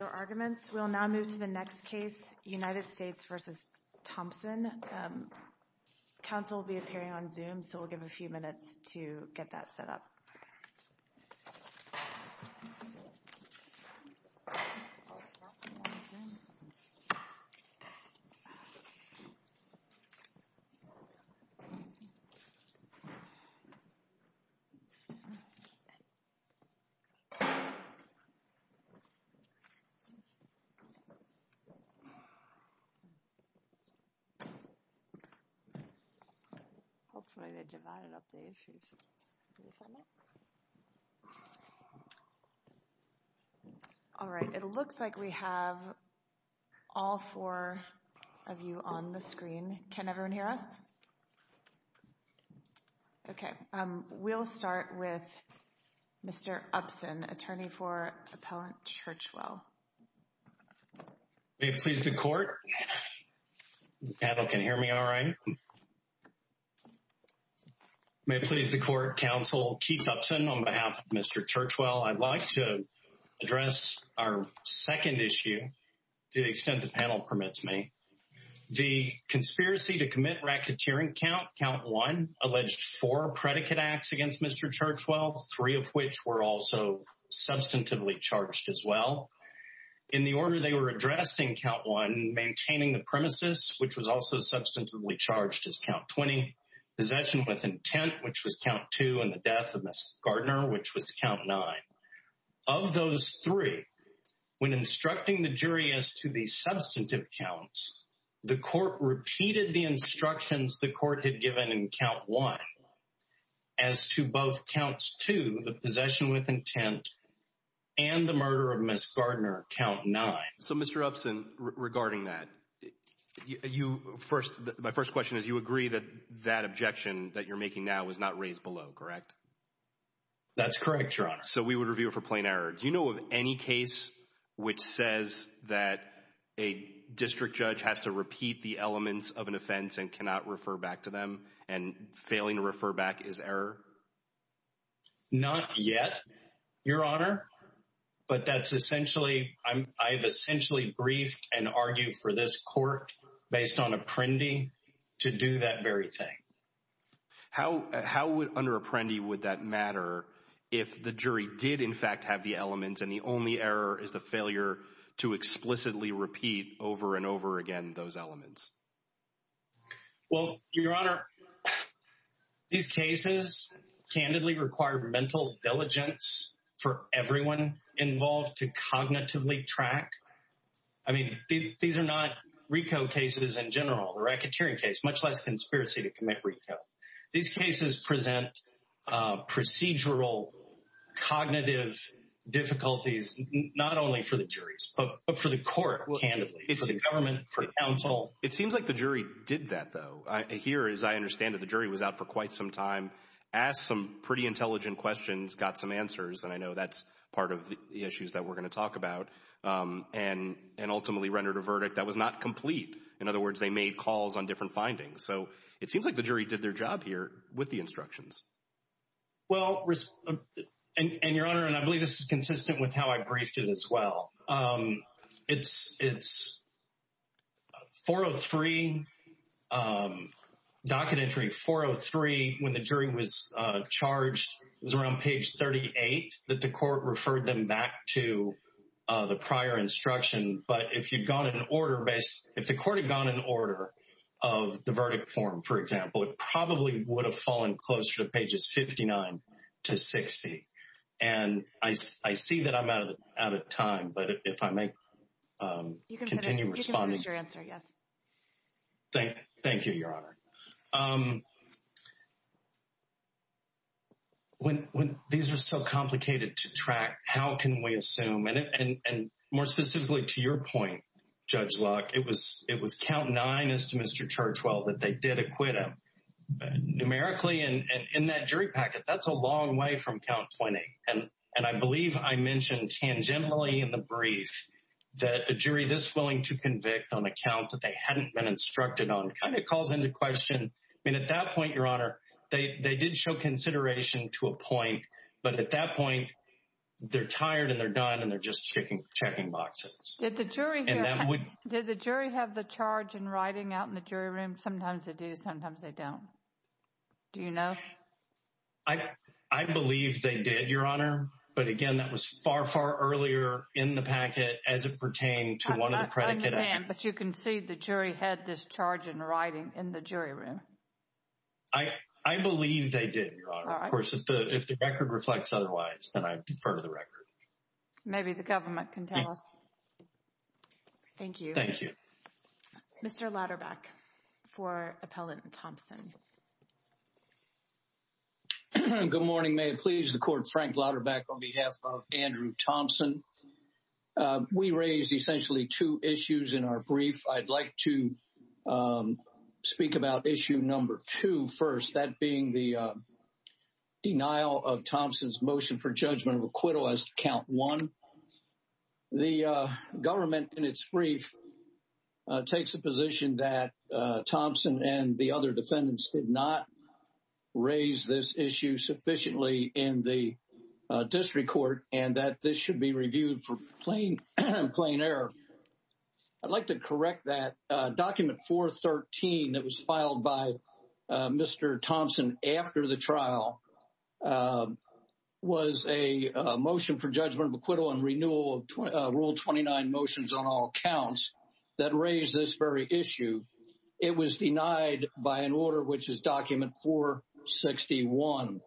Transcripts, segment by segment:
We will now move to the next case, United States v. Thompson. Counsel will be appearing on Zoom, so we'll give a few minutes to get that set up. All right, it looks like we have all four of you on the screen. Can everyone hear us? Okay, we'll start with Mr. Upson, attorney for Appellant Churchwell. May it please the Court. The panel can hear me all right? May it please the Court. Counsel Keith Upson on behalf of Mr. Churchwell. I'd like to address our second issue to the extent the panel permits me. The conspiracy to commit racketeering count, count one, alleged four predicate acts against Mr. Churchwell, three of which were also substantively charged as well. In the order they were addressing count one, maintaining the premises, which was also substantively charged as count 20, possession with intent, which was count two, and the death of Mrs. Gardner, which was count nine. Of those three, when instructing the jury as to the substantive counts, the Court repeated the instructions the Court had given in count one as to both counts two, the possession with intent, and the murder of Mrs. Gardner, count nine. So Mr. Upson, regarding that, my first question is you agree that that objection that you're making now was not raised below, correct? So we would review it for plain error. Do you know of any case which says that a district judge has to repeat the elements of an offense and cannot refer back to them, and failing to refer back is error? Not yet, Your Honor, but that's essentially, I've essentially briefed and argued for this Court based on apprendee to do that very thing. How would, under apprendee, would that matter if the jury did in fact have the elements and the only error is the failure to explicitly repeat over and over again those elements? Well, Your Honor, these cases candidly require mental diligence for everyone involved to cognitively track. I mean, these are not RICO cases in general, the racketeering case, much less conspiracy to commit RICO. These cases present procedural cognitive difficulties, not only for the juries, but for the Court, candidly, for the government, for counsel. It seems like the jury did that, though. Here, as I understand it, the jury was out for quite some time, asked some pretty intelligent questions, got some answers, and I know that's part of the issues that we're going to talk about, and ultimately rendered a verdict that was not complete. In other words, they made calls on different findings. So it seems like the jury did their job here with the instructions. Well, and Your Honor, and I believe this is consistent with how I briefed it as well. It's 403, docket entry 403, when the jury was charged, it was around page 38 that the Court referred them back to the prior instruction. But if the Court had gone in order of the verdict form, for example, it probably would have fallen closer to pages 59 to 60. And I see that I'm out of time, but if I may continue responding. You can finish your answer, yes. Thank you, Your Honor. When these are so complicated to track, how can we assume, and more specifically to your point, Judge Luck, it was count nine as to Mr. Churchwell that they did acquit him. I think that the fact that they hadn't been instructed on kind of calls into question. I mean, at that point, Your Honor, they did show consideration to a point, but at that point, they're tired and they're done and they're just checking boxes. Did the jury have the charge in writing out in the jury room? Sometimes they do, sometimes they don't. Do you know? I believe they did, Your Honor. But again, that was far, far earlier in the packet as it pertained to one of the predicate actions. I understand, but you can see the jury had this charge in writing in the jury room. I believe they did, Your Honor. Of course, if the record reflects otherwise, then I defer the record. Maybe the government can tell us. Thank you. Thank you. Mr. Lauterbach for Appellant Thompson. Good morning. May it please the Court, Frank Lauterbach on behalf of Andrew Thompson. We raised essentially two issues in our brief. I'd like to speak about issue number two first, that being the denial of Thompson's motion for judgment of acquittal as to count one. The government in its brief takes the position that Thompson and the other defendants did not raise this issue sufficiently in the district court and that this should be reviewed for plain error. I'd like to correct that. Document 413 that was filed by Mr. Thompson after the trial was a motion for judgment of acquittal and renewal of Rule 29 motions on all counts that raised this very issue. It was denied by an order which is Document 461.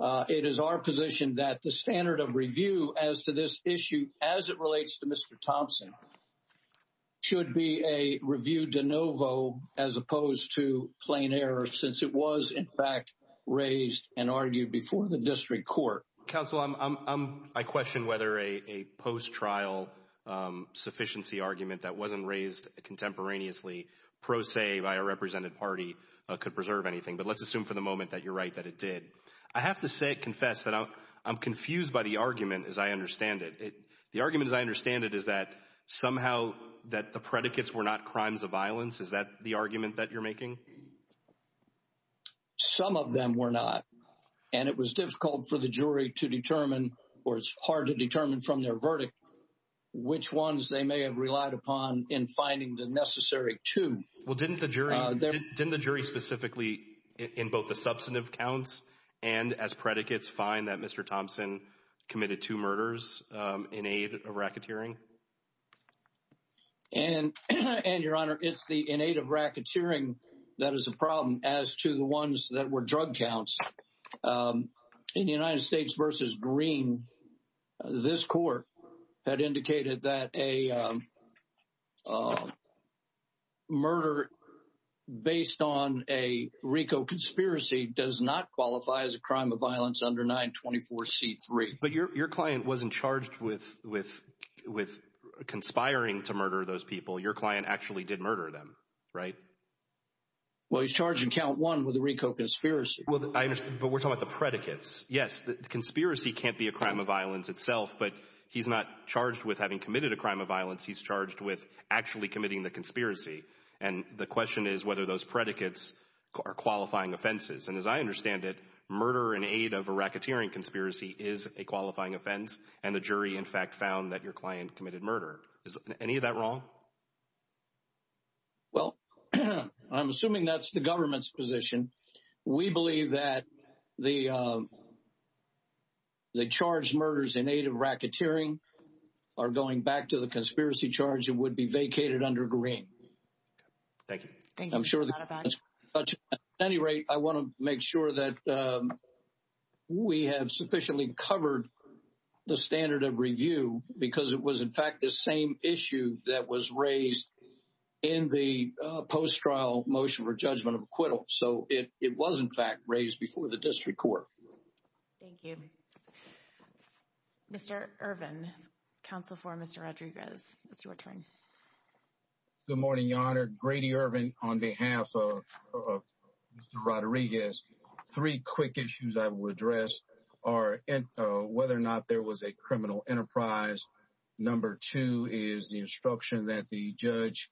It is our position that the standard of review as to this issue as it relates to Mr. Thompson should be a review de novo as opposed to plain error since it was in fact raised and argued before the district court. Counsel, I question whether a post-trial sufficiency argument that wasn't raised contemporaneously pro se by a represented party could preserve anything, but let's assume for the moment that you're right that it did. I have to confess that I'm confused by the argument as I understand it. The argument as I understand it is that somehow that the predicates were not crimes of violence. Is that the argument that you're making? Some of them were not and it was difficult for the jury to determine or it's hard to determine from their verdict which ones they may have relied upon in finding the necessary to well didn't the jury didn't the jury specifically in both the substantive counts and as predicates find that Mr. Thompson committed two murders in aid of racketeering. And your Honor, it's the innate of racketeering. That is a problem as to the ones that were drug counts in the United States versus green. This court had indicated that a murder based on a Rico conspiracy does not qualify as a crime of violence under 924 c3. But your client wasn't charged with with with conspiring to murder those people. Your client actually did murder them, right? Well, he's charging count one with the Rico conspiracy. But we're talking about the predicates. Yes, the conspiracy can't be a crime of violence itself, but he's not charged with having committed a crime of violence. He's charged with actually committing the conspiracy. And the question is whether those predicates are qualifying offenses. And as I understand it, murder in aid of a racketeering conspiracy is a qualifying offense. And the jury in fact found that your client committed murder. Is any of that wrong? Well, I'm assuming that's the government's position. We believe that the the charge murders in aid of racketeering are going back to the conspiracy charge. It would be vacated under green. Thank you. Thank you. I'm sure that at any rate, I want to make sure that we have sufficiently covered the standard of review because it was, in fact, the same issue that was raised in the post trial motion for judgment of acquittal. So it was, in fact, raised before the district court. Thank you. Mr. Irvin, counsel for Mr. Rodriguez, it's your turn. Good morning, Your Honor. Grady Irvin on behalf of Mr. Rodriguez, three quick issues I will address are whether or not there was a criminal enterprise. Number two is the instruction that the judge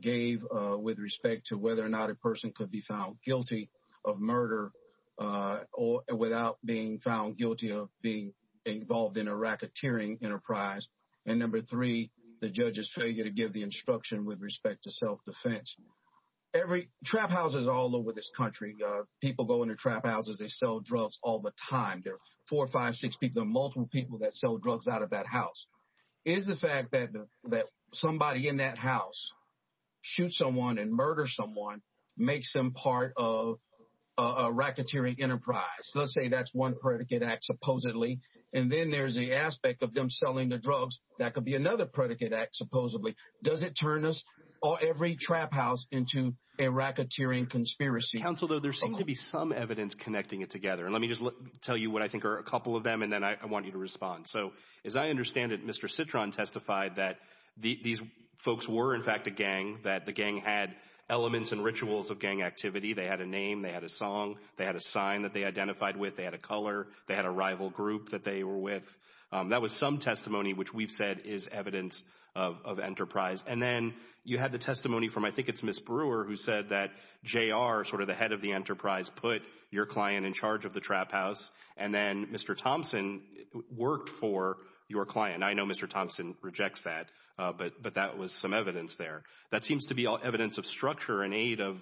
gave with respect to whether or not a person could be found guilty of murder or without being found guilty of being involved in a racketeering enterprise. And number three, the judge's failure to give the instruction with respect to self-defense. Every trap houses all over this country. People go into trap houses. They sell drugs all the time. There are four or five, six people, multiple people that sell drugs out of that house. Is the fact that that somebody in that house shoot someone and murder someone makes them part of a racketeering enterprise? Let's say that's one predicate act supposedly. And then there's the aspect of them selling the drugs. That could be another predicate act. Supposedly, does it turn us or every trap house into a racketeering conspiracy? Counsel, though, there seemed to be some evidence connecting it together. And let me just tell you what I think are a couple of them. And then I want you to respond. So as I understand it, Mr. Citron testified that these folks were, in fact, a gang, that the gang had elements and rituals of gang activity. They had a name. They had a song. They had a sign that they identified with. They had a color. They had a rival group that they were with. That was some testimony which we've said is evidence of enterprise. And then you had the testimony from I think it's Ms. Brewer who said that J.R., sort of the head of the enterprise, put your client in charge of the trap house. And then Mr. Thompson worked for your client. I know Mr. Thompson rejects that, but that was some evidence there. That seems to be evidence of structure and aid of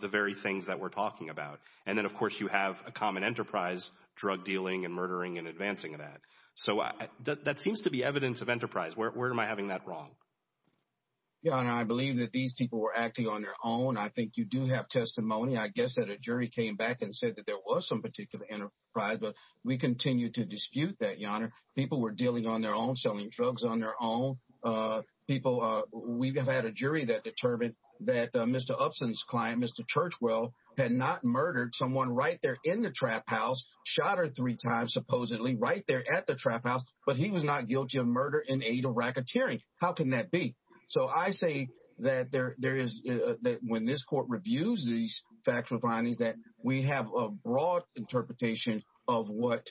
the very things that we're talking about. And then, of course, you have a common enterprise, drug dealing and murdering and advancing that. So that seems to be evidence of enterprise. Where am I having that wrong? Your Honor, I believe that these people were acting on their own. I think you do have testimony. I guess that a jury came back and said that there was some particular enterprise. But we continue to dispute that, Your Honor. People were dealing on their own, selling drugs on their own. People, we've had a jury that determined that Mr. Upson's client, Mr. Churchwell, had not murdered someone right there in the trap house, shot her three times, supposedly, right there at the trap house. But he was not guilty of murder and aid of racketeering. How can that be? So I say that when this court reviews these factual findings, that we have a broad interpretation of what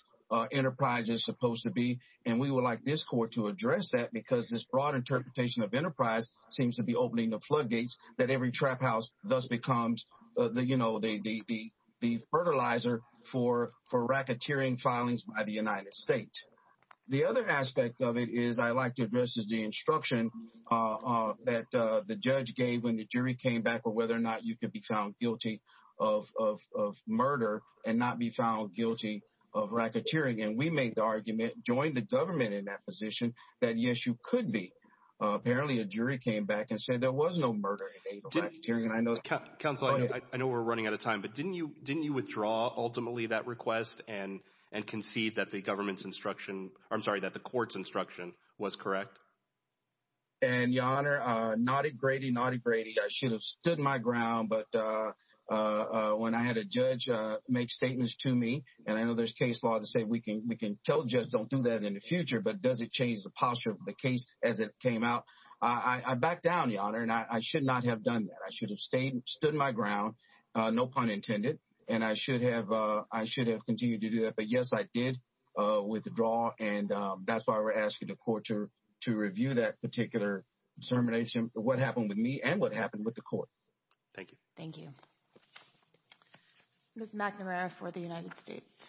enterprise is supposed to be. And we would like this court to address that because this broad interpretation of enterprise seems to be opening the floodgates that every trap house thus becomes the fertilizer for racketeering filings by the United States. The other aspect of it is I like to address the instruction that the judge gave when the jury came back or whether or not you could be found guilty of murder and not be found guilty of racketeering. And we make the argument, join the government in that position, that yes, you could be. Apparently, a jury came back and said there was no murder and aid of racketeering. And I know counsel, I know we're running out of time, but didn't you didn't you withdraw ultimately that request and and concede that the government's instruction? I'm sorry that the court's instruction was correct. And your Honor, Naughty Grady, Naughty Grady, I should have stood my ground. But when I had a judge make statements to me and I know there's case law to say we can we can tell you don't do that in the future. But does it change the posture of the case as it came out? I back down, Your Honor, and I should not have done that. I should have stayed stood my ground. No pun intended. And I should have I should have continued to do that. But, yes, I did withdraw. And that's why we're asking the court to to review that particular determination. What happened to me and what happened with the court. Thank you. Thank you. Ms. McNamara for the United States.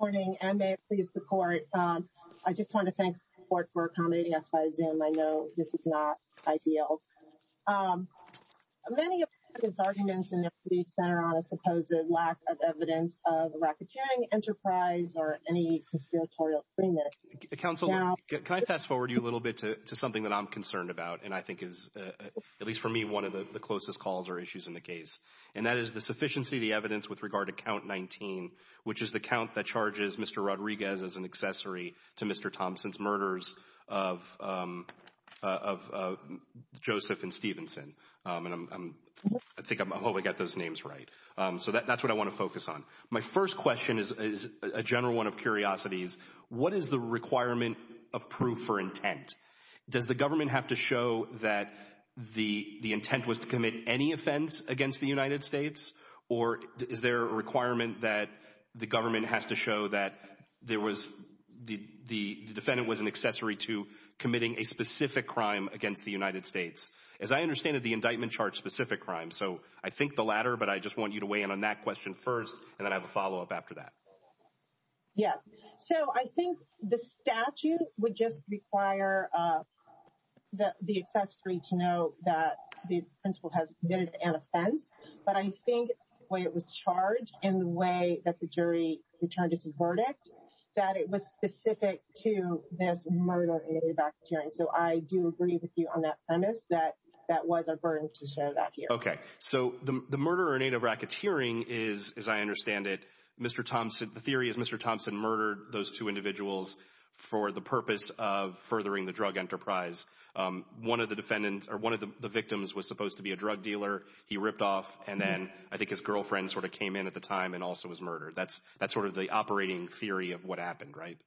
Morning, and may it please the court. I just want to thank the court for accommodating us by Zoom. I know this is not ideal. Many of his arguments in the center on a supposed lack of evidence of racketeering enterprise or any conspiratorial. Counsel, can I fast forward you a little bit to something that I'm concerned about? And I think is, at least for me, one of the closest calls or issues in the case. And that is the sufficiency of the evidence with regard to count 19, which is the count that charges Mr. Rodriguez as an accessory to Mr. Thompson's murders of Joseph and Stevenson. I think I hope I get those names right. So that's what I want to focus on. My first question is a general one of curiosities. What is the requirement of proof for intent? Does the government have to show that the intent was to commit any offense against the United States? Or is there a requirement that the government has to show that there was the defendant was an accessory to committing a specific crime against the United States? As I understand it, the indictment charge specific crime. So I think the latter. But I just want you to weigh in on that question first and then I have a follow up after that. Yes. So I think the statute would just require the accessory to know that the principal has committed an offense. But I think the way it was charged in the way that the jury returned its verdict, that it was specific to this murder. So I do agree with you on that premise that that was a burden to show that here. Okay. So the murder or an advocate hearing is, as I understand it, Mr. Thompson. The theory is Mr. Thompson murdered those two individuals for the purpose of furthering the drug enterprise. One of the defendants or one of the victims was supposed to be a drug dealer. He ripped off. And then I think his girlfriend sort of came in at the time and also was murdered. That's that's sort of the operating theory of what happened, right?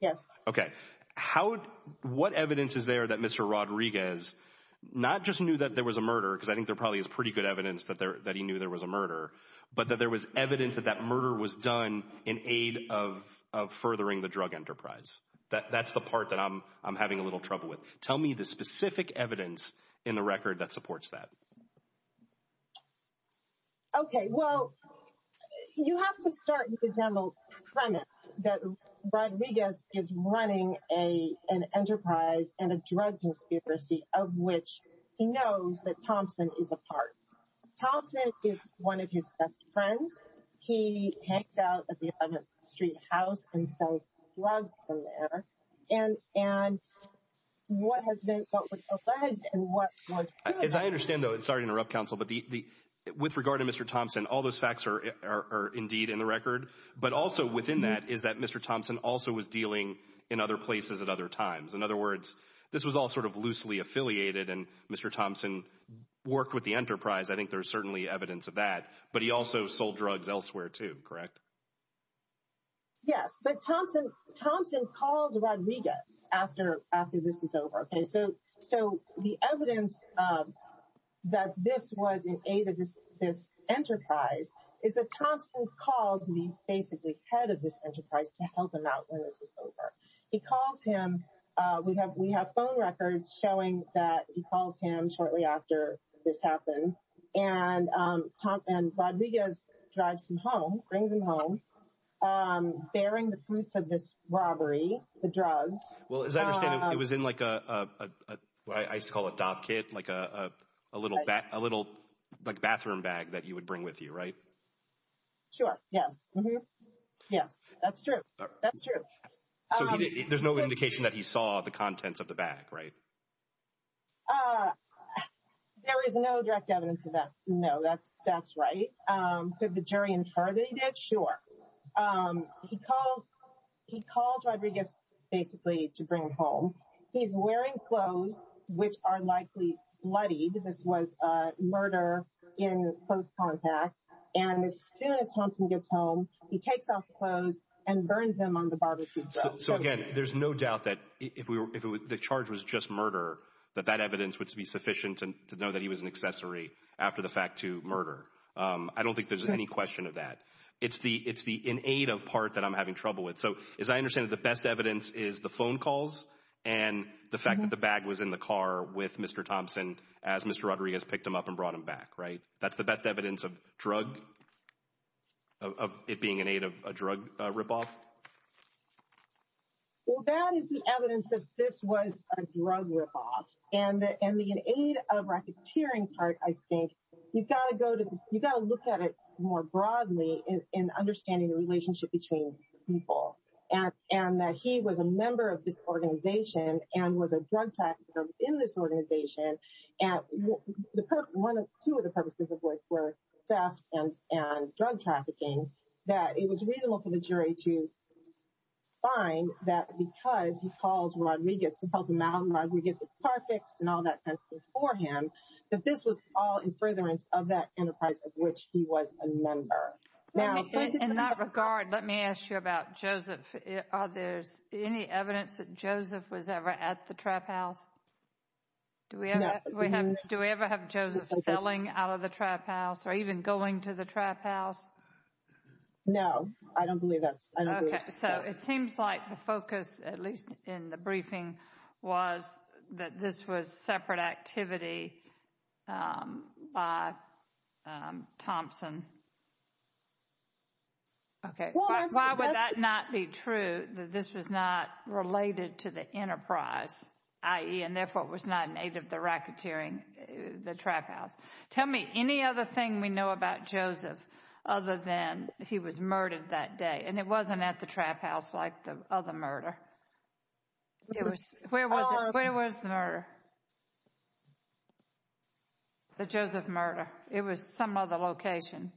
Yes. Okay. How what evidence is there that Mr. Rodriguez not just knew that there was a murder, because I think there probably is pretty good evidence that there that he knew there was a murder, but that there was evidence that that murder was done in aid of of furthering the drug enterprise. That's the part that I'm I'm having a little trouble with. Tell me the specific evidence in the record that supports that. Okay, well, you have to start with the general premise that Rodriguez is running a an enterprise and a drug conspiracy, of which he knows that Thompson is a part. Thompson is one of his best friends. He hangs out at the 11th Street house and sells drugs from there. And and what has been what was alleged and what was. As I understand, though, it's sorry to interrupt counsel, but with regard to Mr. Thompson, all those facts are indeed in the record. But also within that is that Mr. Thompson also was dealing in other places at other times. In other words, this was all sort of loosely affiliated. And Mr. Thompson worked with the enterprise. I think there's certainly evidence of that. But he also sold drugs elsewhere to correct. Yes, but Thompson Thompson calls Rodriguez after after this is over. So so the evidence that this was in aid of this enterprise is that Thompson calls me basically head of this enterprise to help him out when this is over. He calls him. We have we have phone records showing that he calls him shortly after this happened. And Tom and Rodriguez drives him home, brings him home, bearing the fruits of this robbery, the drugs. Well, as I understand it was in like a what I used to call a dog kit, like a little a little like bathroom bag that you would bring with you. Right. Sure. Yes. Yes, that's true. That's true. So there's no indication that he saw the contents of the bag. Right. There is no direct evidence of that. No, that's that's right. Could the jury infer that he did? Sure. He calls. He calls Rodriguez basically to bring home. He's wearing clothes which are likely bloody. This was murder in close contact. And as soon as Thompson gets home, he takes off clothes and burns them on the barbecue. So again, there's no doubt that if we were if the charge was just murder, that that evidence would be sufficient to know that he was an accessory after the fact to murder. I don't think there's any question of that. It's the it's the in aid of part that I'm having trouble with. So as I understand it, the best evidence is the phone calls and the fact that the bag was in the car with Mr. Thompson as Mr. Rodriguez picked him up and brought him back. Right. That's the best evidence of drug. Of it being in aid of a drug ripoff. Well, that is the evidence that this was a drug ripoff and that and the aid of racketeering part, I think you've got to go to you've got to look at it more broadly in understanding the relationship between people and that he was a member of this organization and was a drug tax in this organization. And the one or two of the purposes of work were theft and drug trafficking, that it was reasonable for the jury to find that because he calls Rodriguez to help him out. And all that before him, that this was all in furtherance of that enterprise of which he was a member. Now, in that regard, let me ask you about Joseph. Are there any evidence that Joseph was ever at the trap house? Do we do we ever have Joseph selling out of the trap house or even going to the trap house? No, I don't believe that. So it seems like the focus, at least in the briefing, was that this was separate activity by Thompson. OK, well, why would that not be true that this was not related to the enterprise, i.e., and therefore it was not in aid of the racketeering, the trap house. Tell me any other thing we know about Joseph other than he was murdered that day. And it wasn't at the trap house like the other murder. It was. Where was it? Where was the murder? The Joseph murder. It was some other location.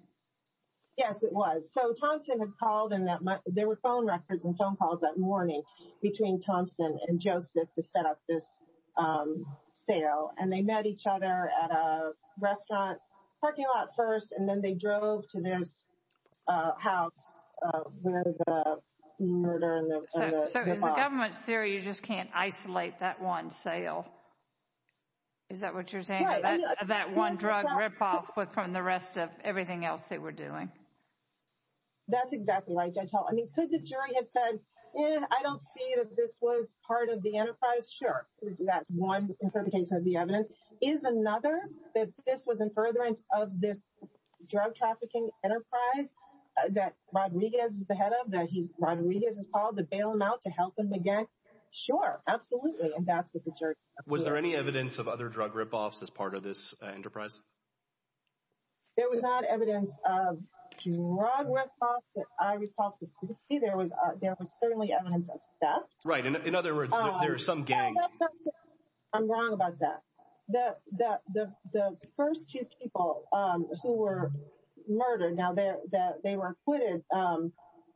Yes, it was. So Thompson had called in that there were phone records and phone calls that morning between Thompson and Joseph to set up this sale. And they met each other at a restaurant parking lot first. And then they drove to this house where the murder. So is the government's theory you just can't isolate that one sale? Is that what you're saying, that one drug ripoff from the rest of everything else they were doing? That's exactly right, Judge Hall. I mean, could the jury have said, I don't see that this was part of the enterprise? Sure. That's one interpretation of the evidence. Is another that this was in furtherance of this drug trafficking enterprise that Rodriguez is the head of, that Rodriguez has called to bail him out to help him again? Sure. Absolutely. And that's what the jury. Was there any evidence of other drug ripoffs as part of this enterprise? There was not evidence of drug ripoffs that I recall specifically. There was certainly evidence of theft. Right. In other words, there are some gangs. I'm wrong about that. The first two people who were murdered, now that they were acquitted,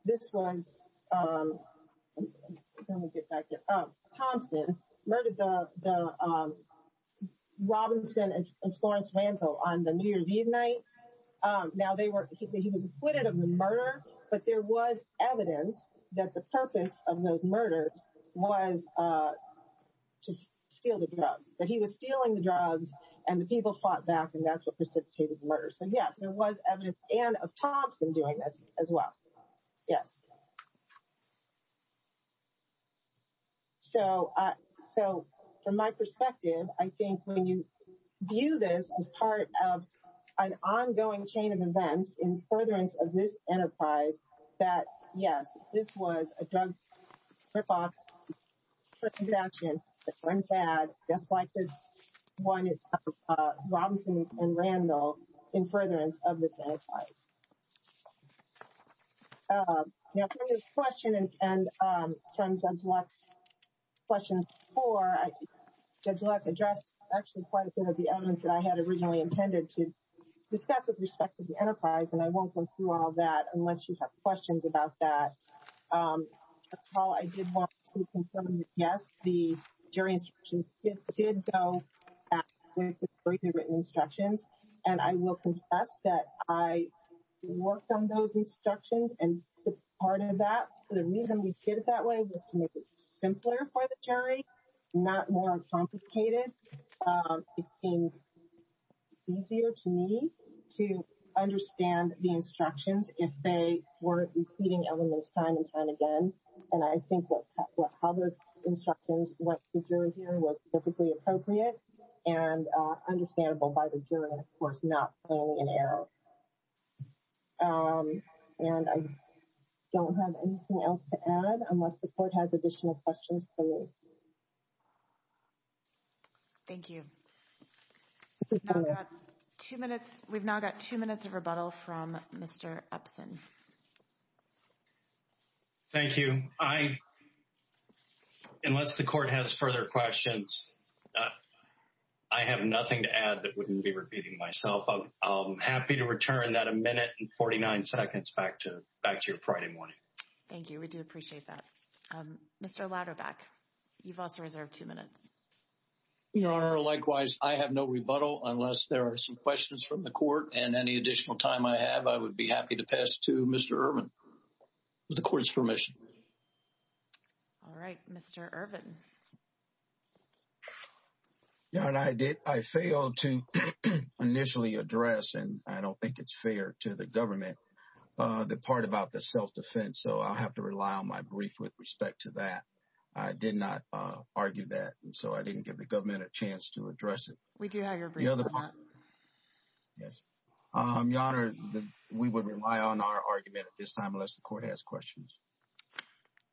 this was Thompson murdered the Robinson and Florence Randall on the New Year's Eve night. Now, he was acquitted of the murder, but there was evidence that the purpose of those murders was to steal the drugs, that he was stealing the drugs and the people fought back and that's what precipitated the murder. So, yes, there was evidence and of Thompson doing this as well. Yes. So, from my perspective, I think when you view this as part of an ongoing chain of events in furtherance of this enterprise, that, yes, this was a drug ripoff for contraption. Just like this Robinson and Randall in furtherance of this enterprise. Now, from this question and from Judge Luck's question four, Judge Luck addressed actually quite a bit of the elements that I had originally intended to discuss with respect to the enterprise. And I won't go through all that unless you have questions about that. That's all I did want to confirm. Yes, the jury instructions did go with the written instructions. And I will confess that I worked on those instructions and part of that, the reason we did it that way was to make it simpler for the jury, not more complicated. It seemed easier to me to understand the instructions if they were including elements time and time again. And I think what other instructions what the jury hearing was perfectly appropriate and understandable by the jury, of course, not playing an error. And I don't have anything else to add unless the court has additional questions for me. Thank you. Two minutes. We've now got two minutes of rebuttal from Mr. Upson. Thank you. I, unless the court has further questions, I have nothing to add that wouldn't be repeating myself. I'm happy to return that a minute and 49 seconds back to back to your Friday morning. Thank you. We do appreciate that. Mr. Ladderback, you've also reserved two minutes. Your Honor, likewise, I have no rebuttal unless there are some questions from the court. And any additional time I have, I would be happy to pass to Mr. Urban with the court's permission. All right, Mr. Urban. Your Honor, I did. I failed to initially address, and I don't think it's fair to the government, the part about the self-defense. So I'll have to rely on my brief with respect to that. I did not argue that. And so I didn't give the government a chance to address it. We do have your brief. Yes. Your Honor, we would rely on our argument at this time unless the court has questions.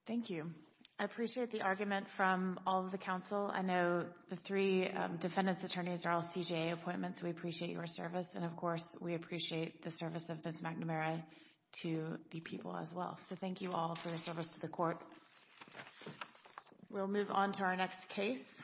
Thank you. I appreciate the argument from all of the counsel. I know the three defendant's attorneys are all CJA appointments. We appreciate your service. And of course, we appreciate the service of Ms. McNamara to the people as well. So thank you all for the service to the court. We'll move on to our next case.